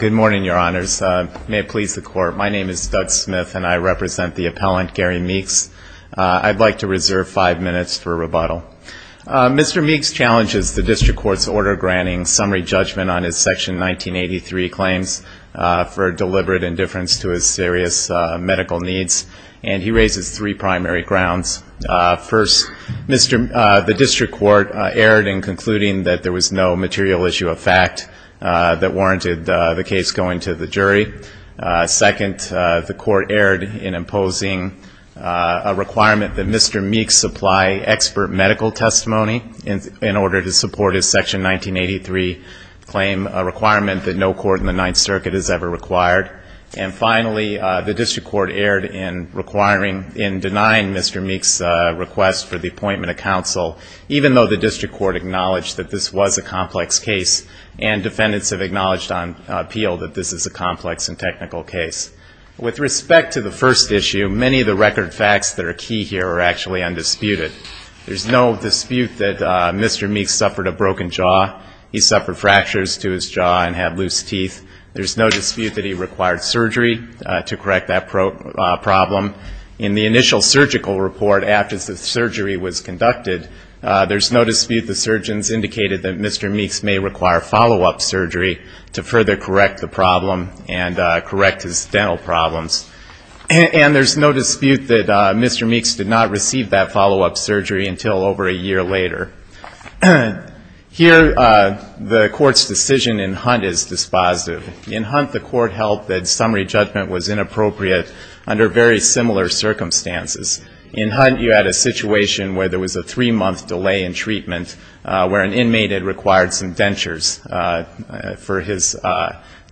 Good morning, Your Honors. May it please the Court, my name is Doug Smith and I represent the appellant Gary Meeks. I'd like to reserve five minutes for rebuttal. Mr. Meeks challenges the District Court's order granting summary judgment on his Section 1983 claims for deliberate indifference to his serious medical needs, and he raises three primary grounds. First, Mr. Meeks, the District Court erred in concluding that there was no material issue of fact that warranted the case going to the jury. Second, the Court erred in imposing a requirement that Mr. Meeks supply expert medical testimony in order to support his Section 1983 claim, a requirement that no court in the Ninth Circuit has ever required. And finally, the District Court's request for the appointment of counsel, even though the District Court acknowledged that this was a complex case and defendants have acknowledged on appeal that this is a complex and technical case. With respect to the first issue, many of the record facts that are key here are actually undisputed. There's no dispute that Mr. Meeks suffered a broken jaw. He suffered fractures to his jaw and had loose teeth. There's no dispute that he required surgery to correct that problem. In the initial surgical report after the surgery was conducted, there's no dispute the surgeons indicated that Mr. Meeks may require follow-up surgery to further correct the problem and correct his dental problems. And there's no dispute that Mr. Meeks did not receive that follow-up surgery until over a year later. Here, the Court's decision in Hunt is dispositive. In Hunt, the Court held that summary judgment was inappropriate under very similar circumstances. In Hunt, you had a situation where there was a three-month delay in treatment, where an inmate had required some dentures for his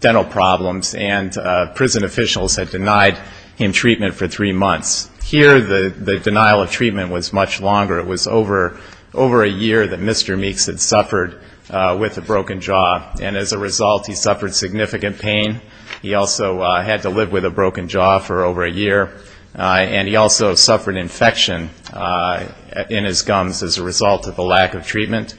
dental problems, and prison officials had denied him treatment for three months. Here, the denial of treatment was much longer. It was over a year that Mr. Meeks had suffered with a broken jaw. And as a result, he suffered significant pain. He also had to live with a broken jaw for over a year. And he also suffered infection in his gums as a result of a lack of treatment.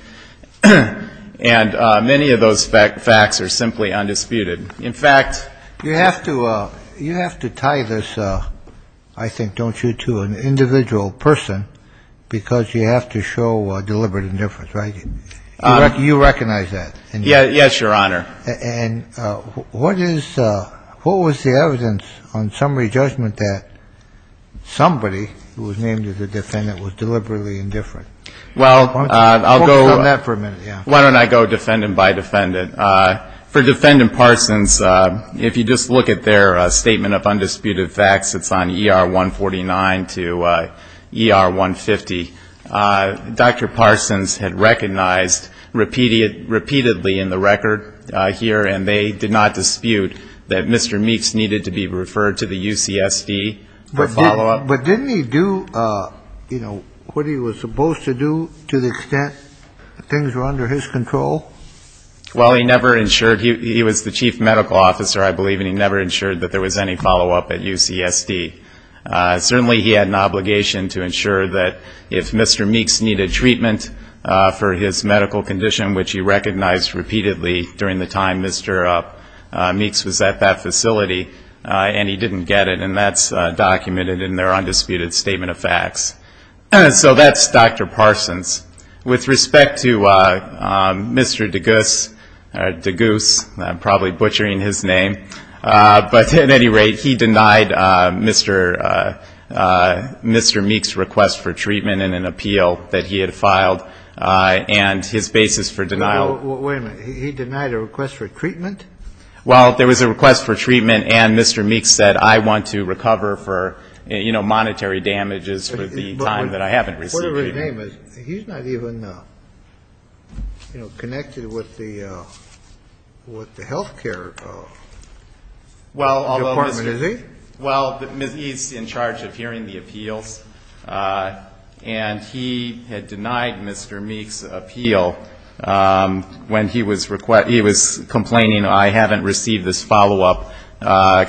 And many of those facts are simply undisputed. In fact, you have to – you have to tie this, I think, don't you, to an individual person, because you have to show deliberate indifference, right? You recognize that? Yes, Your Honor. And what is – what was the evidence on summary judgment that somebody who was named as a defendant was deliberately indifferent? Well, I'll go – Why don't you comment on that for a minute? Why don't I go defendant by defendant? For Defendant Parsons, if you just look at their statement of undisputed facts, it's on ER 149 to ER 150. Dr. Parsons had recognized repeatedly in the record here, and they did not dispute, that Mr. Meeks needed to be referred to the UCSD for follow-up. But didn't he do, you know, what he was supposed to do to the extent that things were under his control? Well, he never ensured – he was the chief medical officer, I believe, and he never ensured that there was any follow-up at UCSD. Certainly, he had an obligation to ensure that if Mr. Meeks needed treatment for his medical condition, which he recognized repeatedly during the time Mr. Meeks was at that facility, and he didn't get it, and that's documented in their undisputed statement of facts. So that's Dr. Parsons. With respect to Mr. Degoose – I'm probably butchering his name – but at any rate, he denied Mr. Meeks' request for treatment in an appeal that he had filed, and his basis for denial – Wait a minute. He denied a request for treatment? Well, there was a request for treatment, and Mr. Meeks said, I want to recover for, you know, monetary damages for the time that I haven't received treatment. But whatever his name is, he's not even, you know, connected with the healthcare department, is he? Well, he's in charge of hearing the appeals, and he had denied Mr. Meeks' appeal when he was complaining, I haven't received this follow-up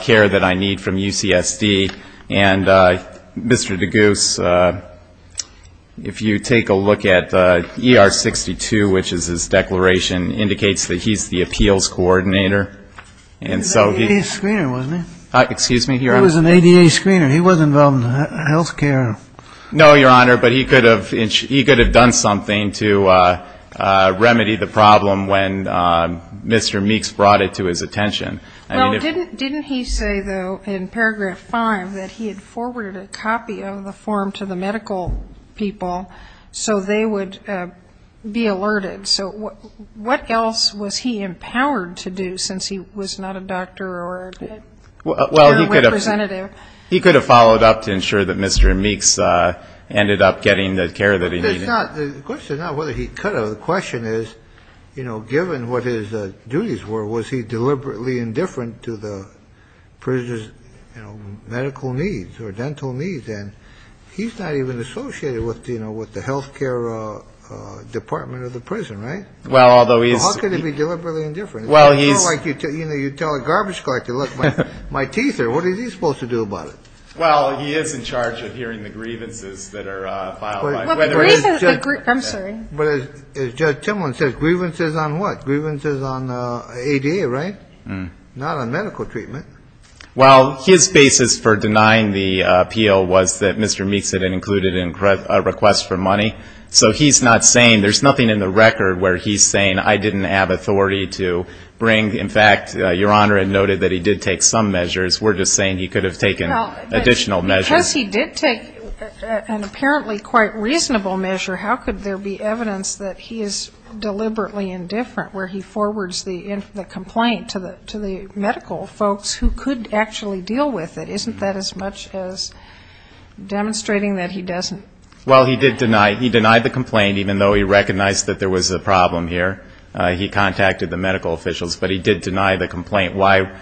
care that I need from UCSD. And Mr. Degoose, if you take a look at ER 62, which is his declaration, indicates that he's the appeals coordinator. He's a screener, wasn't he? Excuse me? He was an ADA screener. He wasn't involved in healthcare. No, Your Honor, but he could have done something to remedy the problem when Mr. Meeks brought it to his attention. Well, didn't he say, though, in paragraph 5 that he had forwarded a copy of the form to the medical people so they would be alerted? So what else was he empowered to do since he was not a doctor or a representative? He could have followed up to ensure that Mr. Meeks ended up getting the care that he needed. The question is not whether he could have. The question is, you know, given what his duties were, was he deliberately indifferent to the prisoner's medical needs or dental needs? And he's not even associated with the healthcare department of the prison, right? Well, although he's – How could he be deliberately indifferent? Well, he's – You know, you tell a garbage collector, look, my teeth are – what is he supposed to do about it? Well, he is in charge of hearing the grievances that are filed by – I'm sorry. But as Judge Timlin says, grievances on what? Grievances on ADA, right? Not on medical treatment. Well, his basis for denying the appeal was that Mr. Meeks had included a request for money. So he's not saying – there's nothing in the record where he's saying, I didn't have authority to bring – in fact, Your Honor had noted that he did take some measures. We're just saying he could have taken additional measures. Well, because he did take an apparently quite reasonable measure, how could there be evidence that he is deliberately indifferent where he forwards the complaint to the medical folks who could actually deal with it? Isn't that as much as demonstrating that he doesn't? Well, he did deny – he denied the complaint even though he recognized that there was a problem here. He contacted the medical officials. But he did deny the complaint. Why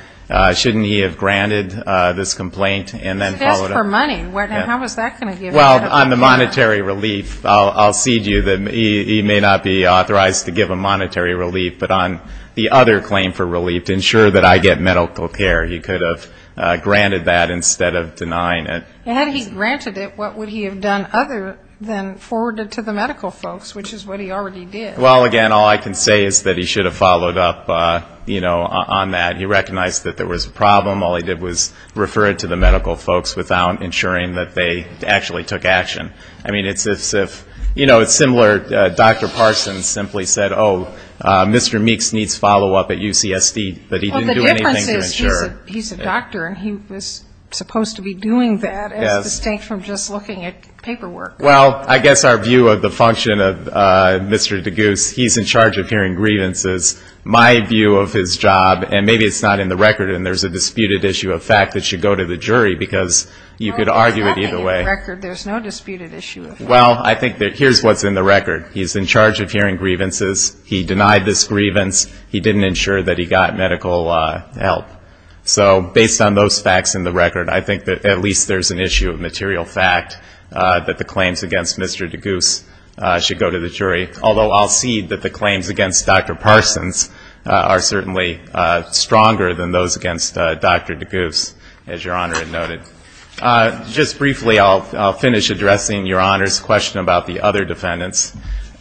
shouldn't he have granted this complaint and then followed up? Because it asked for money. How was that going to give him medical care? Well, on the monetary relief, I'll cede you that he may not be authorized to give a monetary relief. But on the other claim for relief, to ensure that I get medical care, he could have granted that instead of denying it. Had he granted it, what would he have done other than forward it to the medical folks, which is what he already did? Well, again, all I can say is that he should have followed up on that. He recognized that there was a problem. All he did was refer it to the medical folks without ensuring that they actually took action. I mean, it's as if, you know, it's similar, Dr. Parsons simply said, oh, Mr. Meeks needs follow-up at UCSD, but he didn't do anything to ensure. Well, the difference is he's a doctor and he was supposed to be doing that as distinct from just looking at paperwork. Well, I guess our view of the function of Mr. Degoose, he's in charge of hearing grievances. My view of his job, and maybe it's not in the record and there's a disputed issue of fact that should go to the jury because you could argue it either way. No, it's not in the record. There's no disputed issue of fact. Well, I think that here's what's in the record. He's in charge of hearing grievances. He denied this grievance. He didn't ensure that he got medical help. So based on those facts in the record, I think that at least there's an issue of fact that the claims against Mr. Degoose should go to the jury, although I'll cede that the claims against Dr. Parsons are certainly stronger than those against Dr. Degoose, as Your Honor had noted. Just briefly, I'll finish addressing Your Honor's question about the other defendants.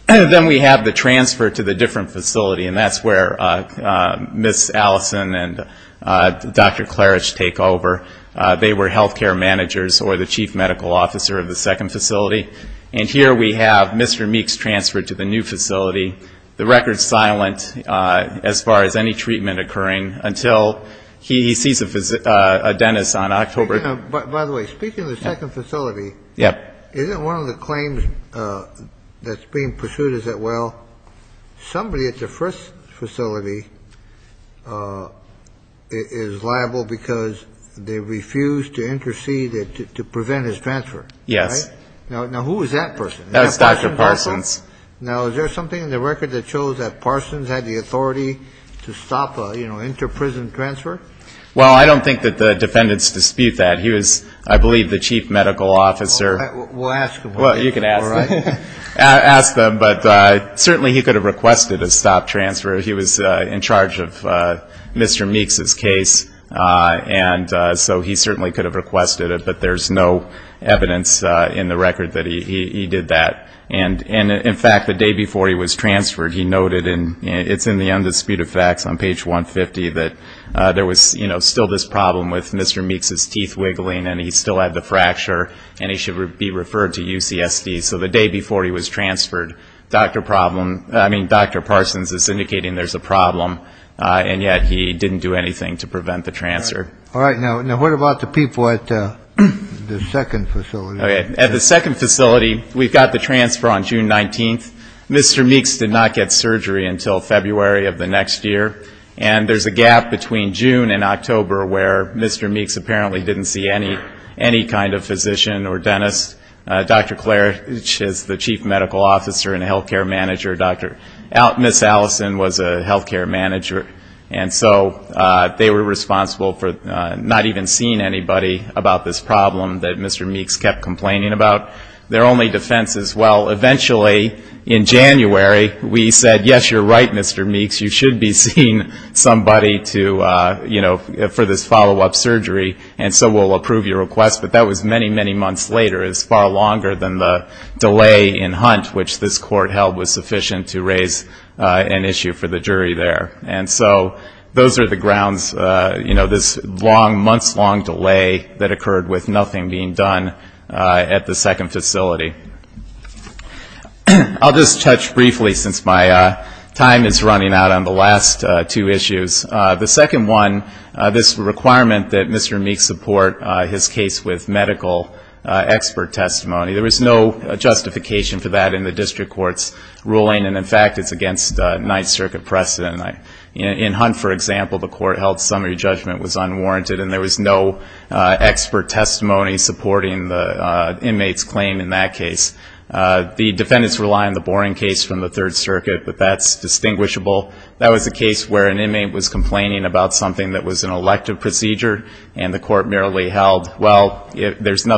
Then we have the transfer to the different facility, and that's where Ms. Allison and Dr. Klarich take over. They were health care managers or the chief medical officer of the second facility. And here we have Mr. Meeks transferred to the new facility. The record's silent as far as any treatment occurring until he sees a dentist on October 12th. By the way, speaking of the second facility, isn't one of the claims that's being pursued, is that, well, somebody at the first facility is liable because they refused to intercede to prevent his transfer? Yes. Now, who was that person? That was Dr. Parsons. Now, is there something in the record that shows that Parsons had the authority to stop an inter-prison transfer? Well, I don't think that the defendants dispute that. He was, I believe, the chief medical officer. We'll ask him. Well, you can ask him. All right. Ask them, but certainly he could have requested a stop transfer. He was in charge of Mr. Meeks's case, and so he certainly could have requested it, but there's no evidence in the record that he did that. And, in fact, the day before he was transferred, he noted, and it's in the Undisputed Facts on page 150, that there was still this problem with Mr. Meeks's teeth wiggling, and he still had the fracture, and he should be referred to UCSD. So the day before he was transferred, Dr. Parsons is indicating there's a problem, and yet he didn't do anything to prevent the transfer. All right. Now, what about the people at the second facility? At the second facility, we got the transfer on June 19th. Mr. Meeks did not get surgery until February of the next year, and there's a gap between June and October where Mr. Meeks apparently didn't see any kind of physician or dentist. Dr. Klarich is the chief medical officer and health care manager. Ms. Allison was a health care manager, and so they were responsible for not even seeing anybody about this problem that Mr. Meeks kept complaining about. Their only defense is, well, eventually, in January, we said, yes, you're right, Mr. Meeks, you should be seeing somebody to, you know, for this follow-up surgery, and so we'll approve your request. But that was many, many months later. It was far longer than the delay in Hunt, which this court held was sufficient to raise an issue for the jury there. And so those are the grounds, you know, this long, months-long delay that occurred with nothing being done at the second facility. I'll just touch briefly, since my time is running out, on the last two issues. The second one, this requirement that Mr. Meeks support his case with medical expert testimony. There was no justification for that in the district court's ruling, and, in fact, it's against Ninth Circuit precedent. In Hunt, for example, the court held summary judgment was unwarranted, and there was no expert testimony supporting the inmate's claim in that case. The defendants rely on the Boren case from the Third Circuit, but that's distinguishable. That was a case where an inmate was complaining about something that was an error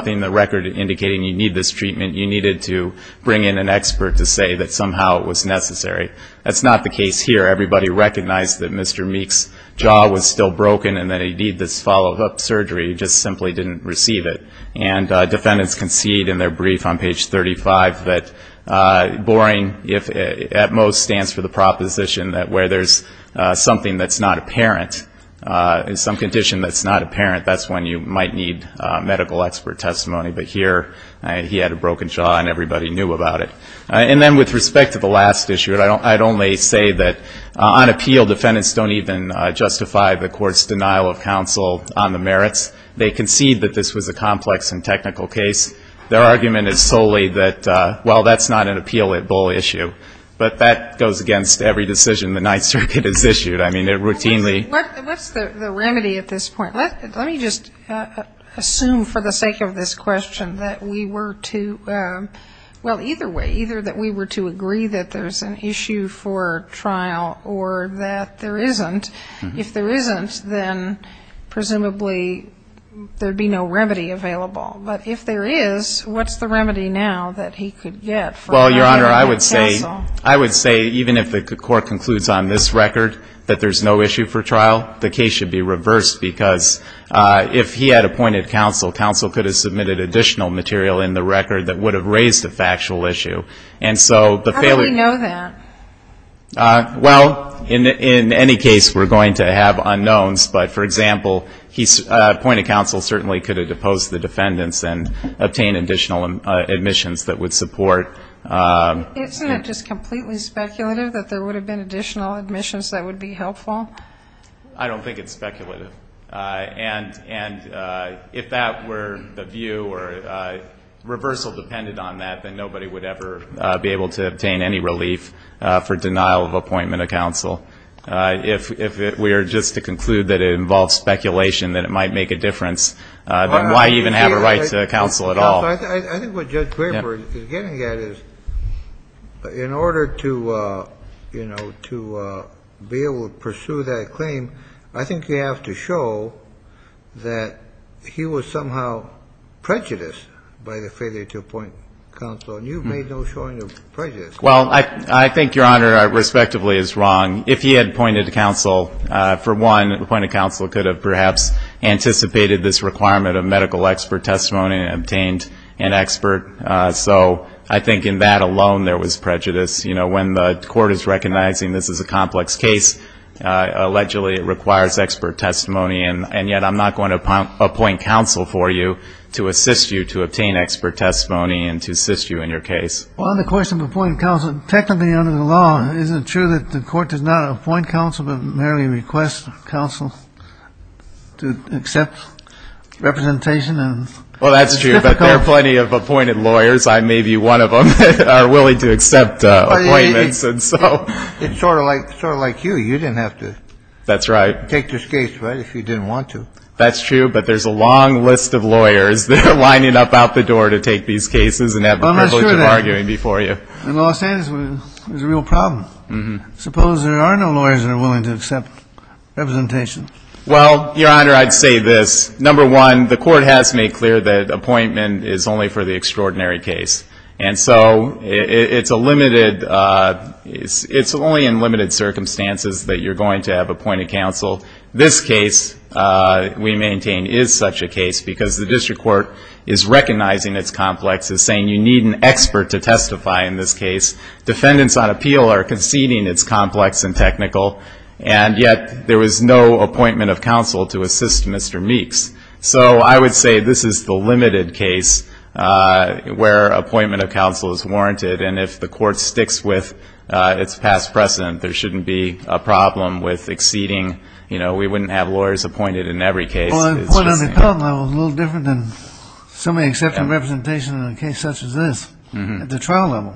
in the record indicating you need this treatment. You needed to bring in an expert to say that somehow it was necessary. That's not the case here. Everybody recognized that Mr. Meeks' jaw was still broken and that, indeed, this follow-up surgery just simply didn't receive it. And defendants concede in their brief on page 35 that Boren, if at most, stands for the proposition that where there's something that's not apparent, in some condition that's not apparent, that's when you might need medical expert testimony. But here, he had a broken jaw and everybody knew about it. And then with respect to the last issue, I'd only say that on appeal, defendants don't even justify the court's denial of counsel on the merits. They concede that this was a complex and technical case. Their argument is solely that, well, that's not an appeal-at-bull issue. But that goes against every decision the Ninth Circuit has issued. I mean, it routinely ---- What's the remedy at this point? Let me just assume for the sake of this question that we were to ---- well, either way, either that we were to agree that there's an issue for trial or that there isn't. If there isn't, then presumably there would be no remedy available. But if there is, what's the remedy now that he could get for not having counsel? Well, Your Honor, I would say even if the court concludes on this record that there's no issue for trial, the case should be reversed because if he had appointed counsel, counsel could have submitted additional material in the record that would have raised a factual issue. And so the failure ---- How do we know that? Well, in any case, we're going to have unknowns. But, for example, appointed counsel certainly could have deposed the defendants and obtained additional admissions that would support ---- Isn't it just completely speculative that there would have been additional admissions that would be helpful? I don't think it's speculative. And if that were the view or reversal depended on that, then nobody would ever be able to obtain any relief for denial of appointment of counsel. If we are just to conclude that it involves speculation that it might make a difference, then why even have a right to counsel at all? I think what Judge Graper is getting at is in order to, you know, to be able to pursue that claim, I think you have to show that he was somehow prejudiced by the failure to appoint counsel. And you've made no showing of prejudice. Well, I think, Your Honor, I respectively is wrong. If he had appointed counsel, for one, appointed counsel could have perhaps anticipated this requirement of medical expert testimony and obtained an expert. So I think in that alone there was prejudice. You know, when the court is recognizing this is a complex case, allegedly it requires expert testimony, and yet I'm not going to appoint counsel for you to assist you to obtain expert testimony and to assist you in your case. Well, on the question of appointing counsel, technically under the law, isn't it true that the court does not appoint counsel but merely request counsel to accept representation? Well, that's true. But there are plenty of appointed lawyers. I may be one of them that are willing to accept appointments. It's sort of like you. You didn't have to take this case, right, if you didn't want to. That's true. But there's a long list of lawyers that are lining up out the door to take these cases and have a privilege of arguing before you. Well, I'll say this is a real problem. Suppose there are no lawyers that are willing to accept representation. Well, Your Honor, I'd say this. Number one, the court has made clear that appointment is only for the extraordinary case. And so it's a limited ‑‑ it's only in limited circumstances that you're going to have appointed counsel. This case, we maintain, is such a case because the district court is recognizing its complex and saying you need an expert to testify in this case. Defendants on appeal are conceding it's complex and technical. And yet there was no appointment of counsel to assist Mr. Meeks. So I would say this is the limited case where appointment of counsel is warranted. And if the court sticks with its past precedent, there shouldn't be a problem with exceeding, you know, we wouldn't have lawyers appointed in every case. Well, the appointment on the Pelham level is a little different than somebody accepting representation on a case such as this at the trial level.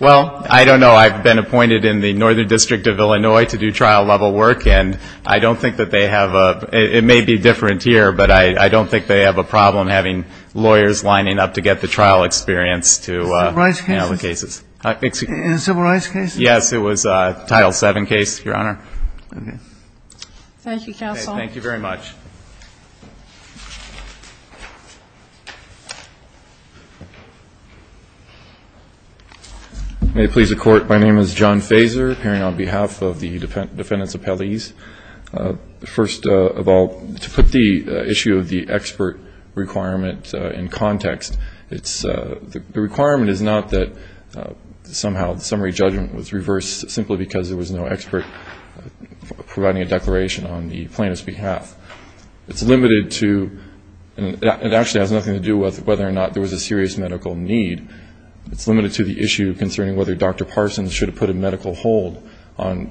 Well, I don't know. I've been appointed in the Northern District of Illinois to do trial-level work. And I don't think that they have a ‑‑ it may be different here, but I don't think they have a problem having lawyers lining up to get the trial experience to handle the cases. In civil rights cases? Yes, it was a Title VII case, Your Honor. Okay. Thank you, counsel. Thank you very much. May it please the Court, my name is John Fazer, appearing on behalf of the defendants appellees. First of all, to put the issue of the expert requirement in context, it's ‑‑ the requirement is not that somehow the summary judgment was reversed simply because there was no expert providing a declaration on the plaintiff's behalf. It's limited to ‑‑ it actually has nothing to do with whether or not there was a serious medical need. It's limited to the issue concerning whether Dr. Parsons should have put a medical hold on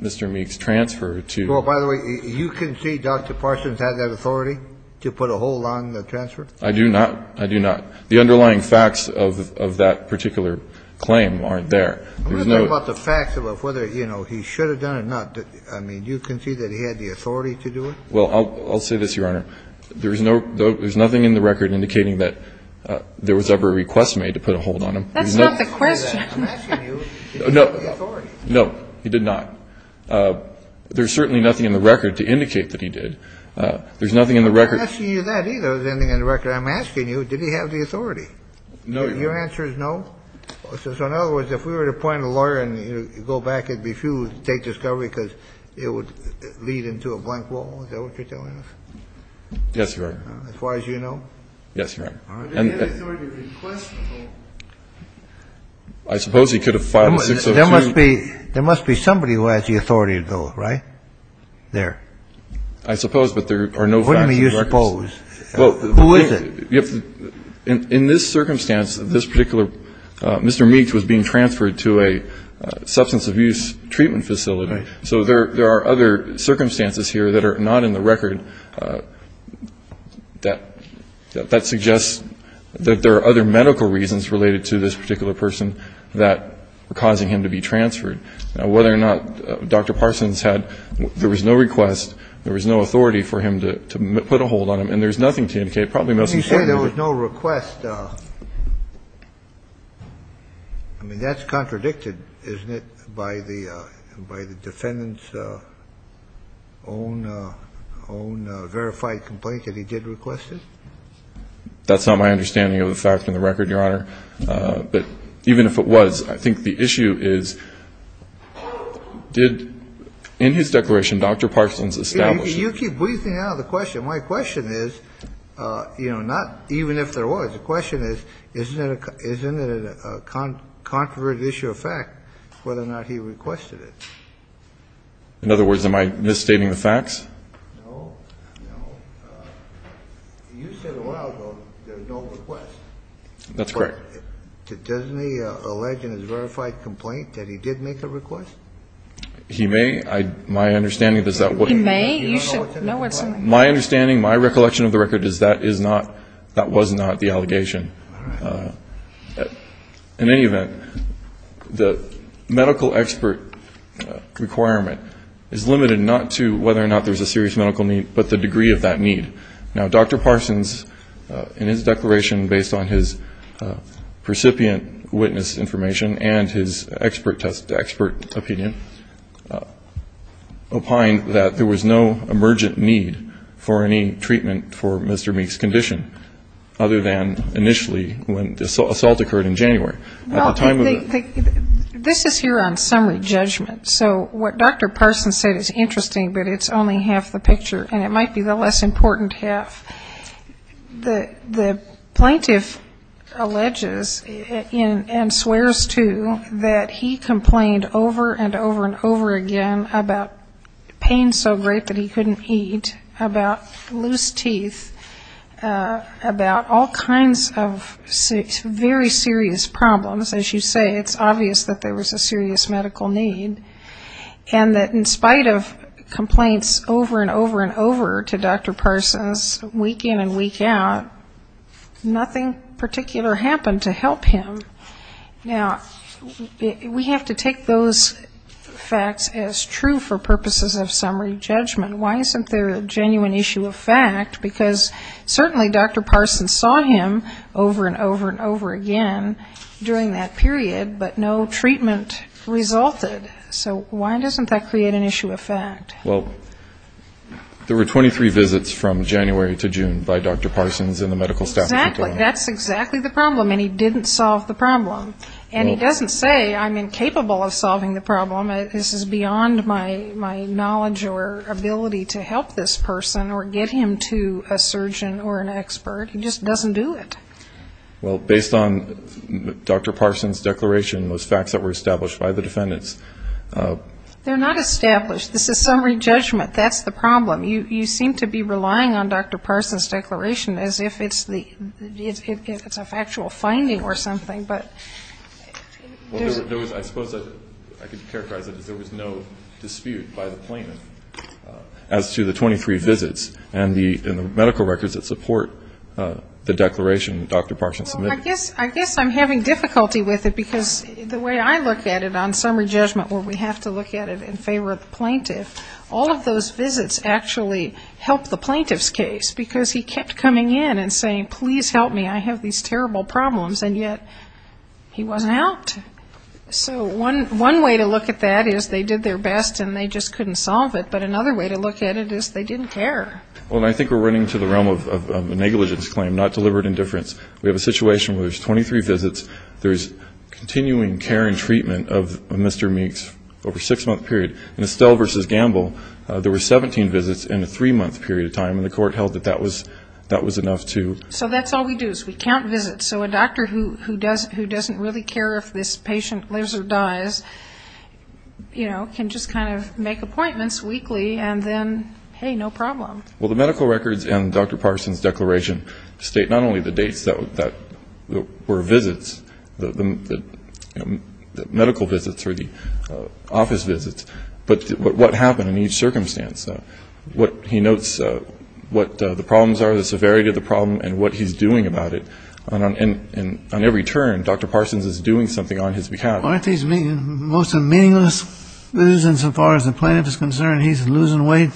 Mr. Meek's transfer to ‑‑ Well, by the way, you concede Dr. Parsons had that authority to put a hold on the transfer? I do not. I do not. The underlying facts of that particular claim aren't there. I want to talk about the facts of whether, you know, he should have done it or not. I mean, do you concede that he had the authority to do it? Well, I'll say this, Your Honor. There's no ‑‑ there's nothing in the record indicating that there was ever a request made to put a hold on him. That's not the question. I'm asking you, did he have the authority? No, he did not. There's certainly nothing in the record to indicate that he did. There's nothing in the record ‑‑ I'm not asking you that, either, is anything in the record. I'm asking you, did he have the authority? No, Your Honor. Your answer is no? So in other words, if we were to appoint a lawyer and go back, it would be futile to take discovery because it would lead into a blank wall, is that what you're telling us? Yes, Your Honor. As far as you know? Yes, Your Honor. I suppose he could have filed a 602. There must be somebody who has the authority to do it, right? There. I suppose, but there are no facts in the record. What do you suppose? Who is it? In this circumstance, this particular ‑‑ Mr. Meeks was being transferred to a substance abuse treatment facility. Right. So there are other circumstances here that are not in the record that suggests that there are other medical reasons related to this particular person that were causing him to be transferred. Now, whether or not Dr. Parsons had ‑‑ there was no request, there was no authority for him to put a hold on him, and there's nothing to indicate. Let me say there was no request. I mean, that's contradicted, isn't it, by the defendant's own verified complaint that he did request it? That's not my understanding of the fact in the record, Your Honor. But even if it was, I think the issue is did, in his declaration, Dr. Parsons establish it? You keep breezing out of the question. My question is, you know, not even if there was. The question is, isn't it a controverted issue of fact whether or not he requested it? In other words, am I misstating the facts? No. No. You said a while ago there was no request. That's correct. But doesn't he allege in his verified complaint that he did make a request? My understanding is that ‑‑ He may? You should know what's in the request. My understanding, my recollection of the record is that is not, that was not the allegation. All right. In any event, the medical expert requirement is limited not to whether or not there's a serious medical need, but the degree of that need. Now, Dr. Parsons, in his declaration, based on his recipient witness information and his expert opinion, opined that there was no emergent need for any treatment for Mr. Meek's condition other than initially when the assault occurred in January. At the time of the ‑‑ This is here on summary judgment. So what Dr. Parsons said is interesting, but it's only half the picture, and it might be the less important half. The plaintiff alleges and swears to that he complained over and over and over again about pain so great that he couldn't eat, about loose teeth, about all kinds of very serious problems. As you say, it's obvious that there was a serious medical need, and that in spite of complaints over and over and over to Dr. Parsons week in and week out, nothing particular happened to help him. Now, we have to take those facts as true for purposes of summary judgment. Why isn't there a genuine issue of fact? Because certainly Dr. Parsons saw him over and over and over again during that period, but no treatment resulted. So why doesn't that create an issue of fact? Well, there were 23 visits from January to June by Dr. Parsons and the medical staff. Exactly. That's exactly the problem, and he didn't solve the problem. And he doesn't say I'm incapable of solving the problem. This is beyond my knowledge or ability to help this person or get him to a surgeon or an expert. He just doesn't do it. Well, based on Dr. Parsons' declaration, those facts that were established by the defendants ‑‑ They're not established. This is summary judgment. That's the problem. You seem to be relying on Dr. Parsons' declaration as if it's a factual finding or something, but ‑‑ I suppose I could characterize it as there was no dispute by the plaintiff as to the 23 visits and the medical records that support the declaration that Dr. Parsons submitted. Well, I guess I'm having difficulty with it because the way I look at it on summary judgment where we have to look at it in favor of the plaintiff, all of those visits actually helped the plaintiff's case because he kept coming in and saying please help me. I have these terrible problems, and yet he wasn't helped. So one way to look at that is they did their best and they just couldn't solve it, but another way to look at it is they didn't care. Well, I think we're running into the realm of a negligence claim, not deliberate indifference. We have a situation where there's 23 visits. There's continuing care and treatment of Mr. Meeks over a six‑month period. In Estelle v. Gamble, there were 17 visits in a three‑month period of time, and the court held that that was enough to ‑‑ So that's all we do is we count visits. So a doctor who doesn't really care if this patient lives or dies, you know, can just kind of make appointments weekly and then, hey, no problem. Well, the medical records in Dr. Parsons' declaration state not only the dates that were visits, the medical visits or the office visits, but what happened in each circumstance. He notes what the problems are, the severity of the problem, and what he's doing about it. And on every turn, Dr. Parsons is doing something on his behalf. Aren't these most meaningless reasons as far as the plaintiff is concerned? He's losing weight,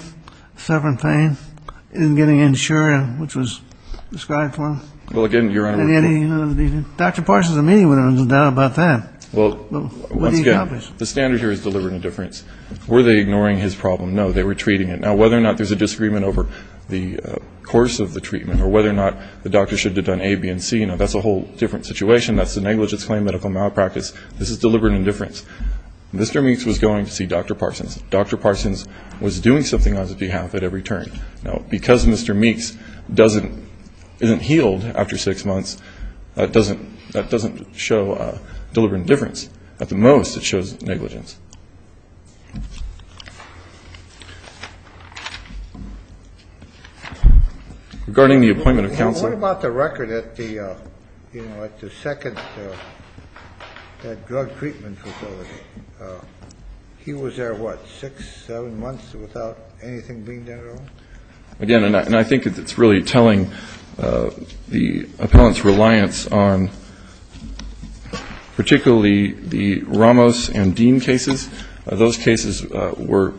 suffering pain, isn't getting insured, which was described for him. Well, again, Your Honor ‑‑ Dr. Parsons and me would have no doubt about that. Well, once again, the standard here is deliberate indifference. Were they ignoring his problem? No, they were treating it. Now, whether or not there's a disagreement over the course of the treatment or whether or not the doctor should have done A, B, and C, you know, that's a whole different situation. That's a negligence claim medical malpractice. This is deliberate indifference. Mr. Meeks was going to see Dr. Parsons. Dr. Parsons was doing something on his behalf at every turn. Now, because Mr. Meeks doesn't ‑‑ isn't healed after six months, that doesn't show deliberate indifference. At the most, it shows negligence. Regarding the appointment of counsel ‑‑ What about the record at the, you know, at the second drug treatment facility? He was there, what, six, seven months without anything being done at all? Again, and I think it's really telling the appellant's reliance on particularly the Ramos and Dean cases. Those cases were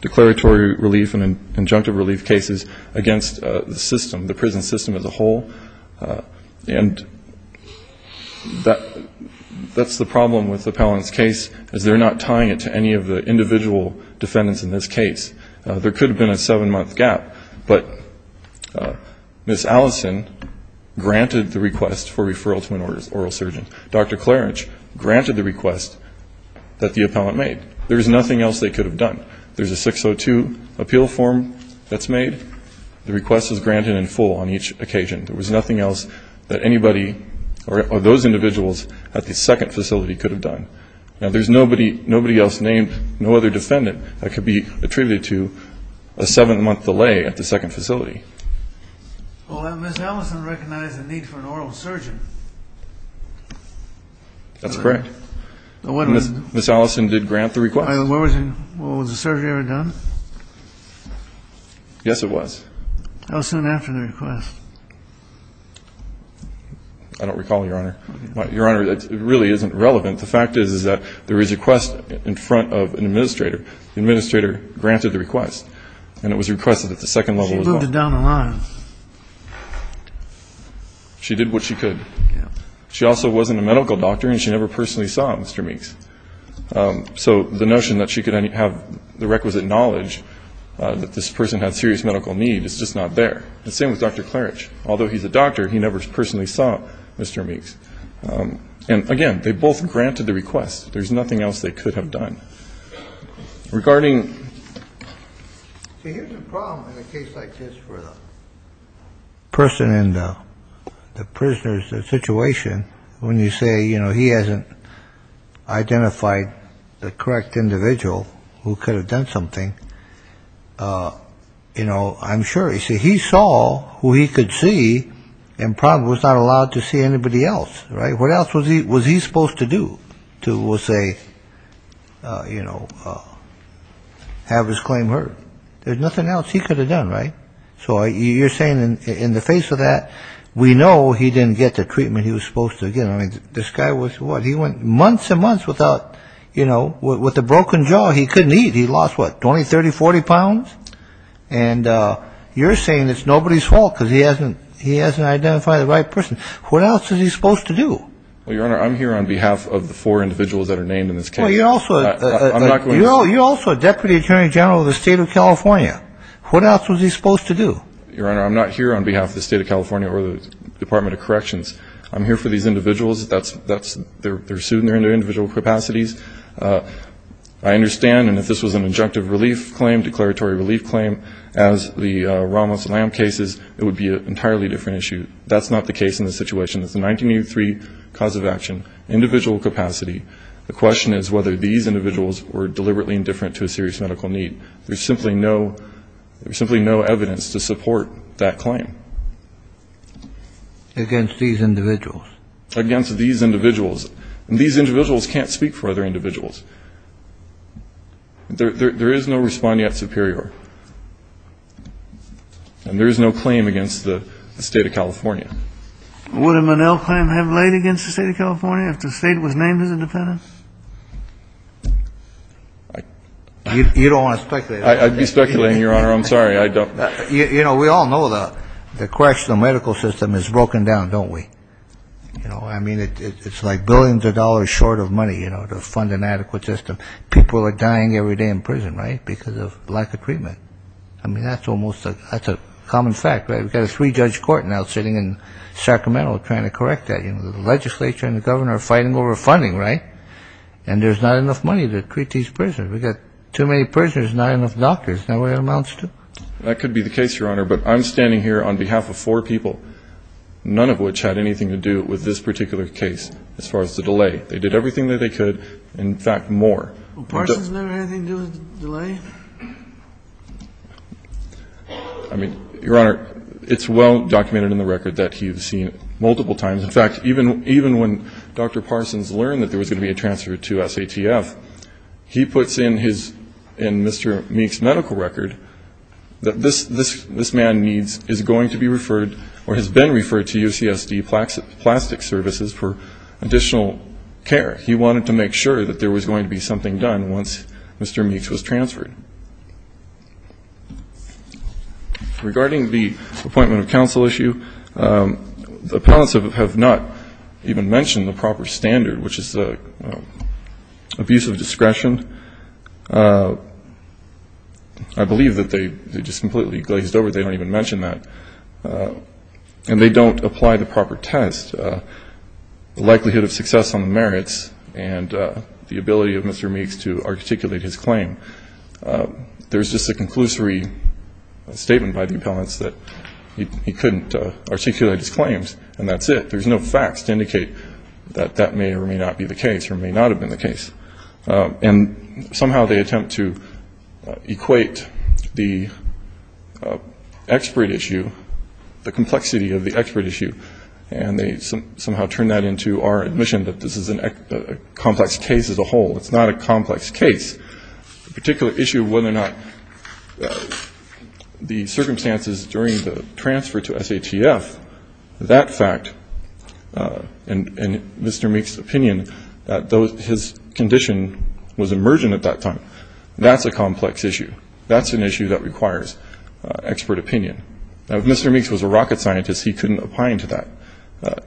declaratory relief and injunctive relief cases against the system, the prison system as a whole. And that's the problem with the appellant's case, is they're not tying it to any of the individual defendants in this case. There could have been a seven-month gap, but Ms. Allison granted the request for referral to an oral surgeon. Dr. Clarence granted the request that the appellant made. There was nothing else they could have done. There's a 602 appeal form that's made. The request was granted in full on each occasion. There was nothing else that anybody or those individuals at the second facility could have done. Now, there's nobody else named, no other defendant, that could be attributed to a seven-month delay at the second facility. Well, Ms. Allison recognized the need for an oral surgeon. That's correct. Ms. Allison did grant the request. Was the surgery ever done? Yes, it was. How soon after the request? I don't recall, Your Honor. Your Honor, it really isn't relevant. The fact is, is that there is a request in front of an administrator. The administrator granted the request, and it was requested at the second level as well. She moved it down the line. She did what she could. She also wasn't a medical doctor, and she never personally saw Mr. Meeks. So the notion that she could have the requisite knowledge that this person had serious medical need is just not there. The same with Dr. Klarich. Although he's a doctor, he never personally saw Mr. Meeks. And, again, they both granted the request. There's nothing else they could have done. Regarding ---- See, here's the problem in a case like this where the person in the prisoner's situation, when you say, you know, he hasn't identified the correct individual who could have done something, you know, I'm sure. See, he saw who he could see and probably was not allowed to see anybody else, right? What else was he supposed to do to, we'll say, you know, have his claim heard? There's nothing else he could have done, right? So you're saying in the face of that, we know he didn't get the treatment he was supposed to get. I mean, this guy was what? He went months and months without, you know, with a broken jaw. He couldn't eat. He lost, what, 20, 30, 40 pounds? And you're saying it's nobody's fault because he hasn't identified the right person. What else is he supposed to do? Well, Your Honor, I'm here on behalf of the four individuals that are named in this case. Well, you're also a Deputy Attorney General of the State of California. What else was he supposed to do? Your Honor, I'm not here on behalf of the State of California or the Department of Corrections. I'm here for these individuals. They're sued in their individual capacities. I understand, and if this was an injunctive relief claim, declaratory relief claim, as the Ramos-Lamb cases, it would be an entirely different issue. That's not the case in this situation. It's a 1983 cause of action, individual capacity. The question is whether these individuals were deliberately indifferent to a serious medical need. There's simply no evidence to support that claim. Against these individuals? Against these individuals. And these individuals can't speak for other individuals. There is no respondent superior. And there is no claim against the State of California. Would a Menil claim have laid against the State of California if the State was named as independent? You don't want to speculate. I'd be speculating, Your Honor. I'm sorry. I don't. You know, we all know the correctional medical system is broken down, don't we? You know, I mean, it's like billions of dollars short of money, you know, to fund an adequate system. People are dying every day in prison, right, because of lack of treatment. I mean, that's almost a common fact, right? We've got a three-judge court now sitting in Sacramento trying to correct that. You know, the legislature and the governor are fighting over funding, right? And there's not enough money to treat these prisoners. We've got too many prisoners and not enough doctors. That's not the way it amounts to. That could be the case, Your Honor, but I'm standing here on behalf of four people, none of which had anything to do with this particular case as far as the delay. They did everything that they could, in fact, more. Well, Parsons never had anything to do with the delay? I mean, Your Honor, it's well documented in the record that he's seen it multiple times. In fact, even when Dr. Parsons learned that there was going to be a transfer to SATF, he puts in Mr. Meek's medical record that this man is going to be referred or has been referred to UCSD Plastic Services for additional care. He wanted to make sure that there was going to be something done once Mr. Meek's was transferred. Regarding the appointment of counsel issue, the appellants have not even mentioned the proper standard, which is abuse of discretion. I believe that they just completely glazed over they don't even mention that. And they don't apply the proper test, the likelihood of success on the merits and the ability of Mr. Meek's to articulate his claim. There's just a conclusory statement by the appellants that he couldn't articulate his claims, and that's it. There's no facts to indicate that that may or may not be the case or may not have been the case. And somehow they attempt to equate the expert issue, the complexity of the expert issue, and they somehow turn that into our admission that this is a complex case as a whole. It's not a complex case. The particular issue of whether or not the circumstances during the transfer to SATF, that fact, and Mr. Meek's opinion that his condition was emergent at that time, that's a complex issue. That's an issue that requires expert opinion. Now, if Mr. Meek's was a rocket scientist, he couldn't opine to that.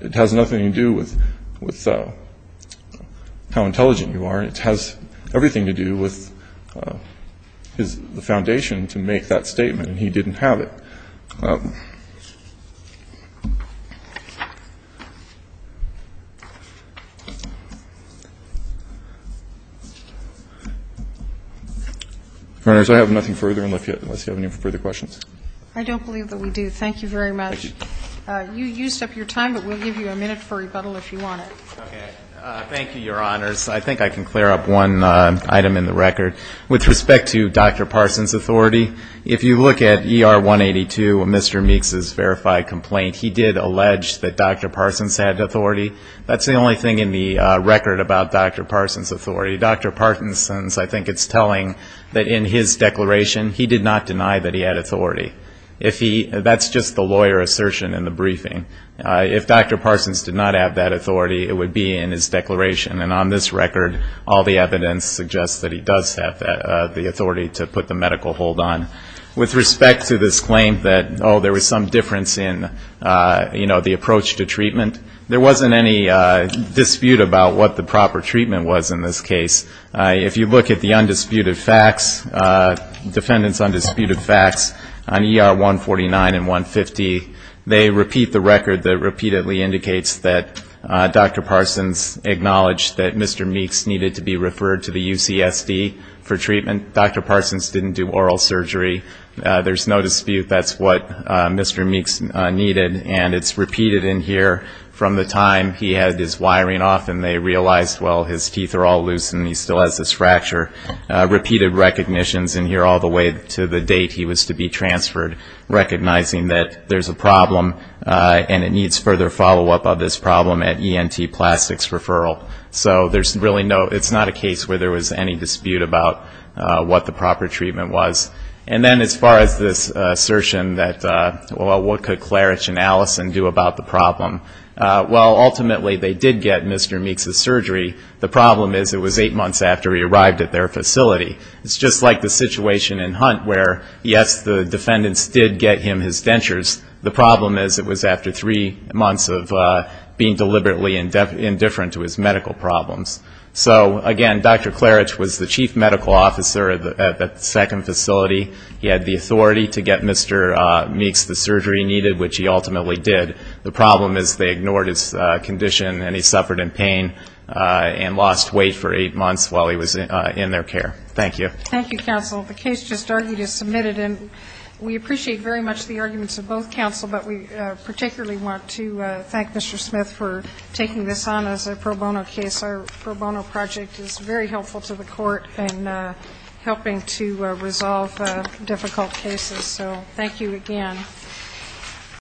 It has nothing to do with how intelligent you are. It has everything to do with the foundation to make that statement, and he didn't have it. Your Honors, I have nothing further unless you have any further questions. I don't believe that we do. Thank you very much. Thank you. You used up your time, but we'll give you a minute for rebuttal if you want it. Okay. Thank you, Your Honors. I think I can clear up one item in the record. With respect to Dr. Parsons' authority, if you look at ER 182, Mr. Meek's verified complaint, he did allege that Dr. Parsons had authority. That's the only thing in the record about Dr. Parsons' authority. Dr. Parkinson's, I think it's telling that in his declaration, he did not deny that he had authority. That's just the lawyer assertion in the briefing. If Dr. Parsons did not have that authority, it would be in his declaration. And on this record, all the evidence suggests that he does have the authority to put the medical hold on. With respect to this claim that, oh, there was some difference in, you know, the approach to treatment, there wasn't any dispute about what the proper treatment was in this case. If you look at the undisputed facts, defendant's undisputed facts on ER 149 and 150, they repeat the record that repeatedly indicates that Dr. Parsons acknowledged that Mr. Meek's needed to be referred to the UCSD for treatment. Dr. Parsons didn't do oral surgery. There's no dispute that's what Mr. Meek's needed. And it's repeated in here from the time he had his wiring off and they realized, well, his teeth are all loose and he still has this fracture. Repeated recognitions in here all the way to the date he was to be transferred, recognizing that there's a problem and it needs further follow-up of this problem at ENT Plastics Referral. So there's really no, it's not a case where there was any dispute about what the proper treatment was. And then as far as this assertion that, well, what could Klarich and Allison do about the problem, well, ultimately they did get Mr. Meek's surgery. The problem is it was eight months after he arrived at their facility. It's just like the situation in Hunt where, yes, the defendants did get him his dentures. The problem is it was after three months of being deliberately indifferent to his medical problems. So, again, Dr. Klarich was the chief medical officer at the second facility. He had the authority to get Mr. Meek's the surgery he needed, which he ultimately did. The problem is they ignored his condition and he suffered in pain and lost weight for eight months while he was in their care. Thank you. Thank you, counsel. The case just argued is submitted. And we appreciate very much the arguments of both counsel, but we particularly want to thank Mr. Smith for taking this on as a pro bono case. Our pro bono project is very helpful to the court in helping to resolve difficult cases. So thank you again. Thank you.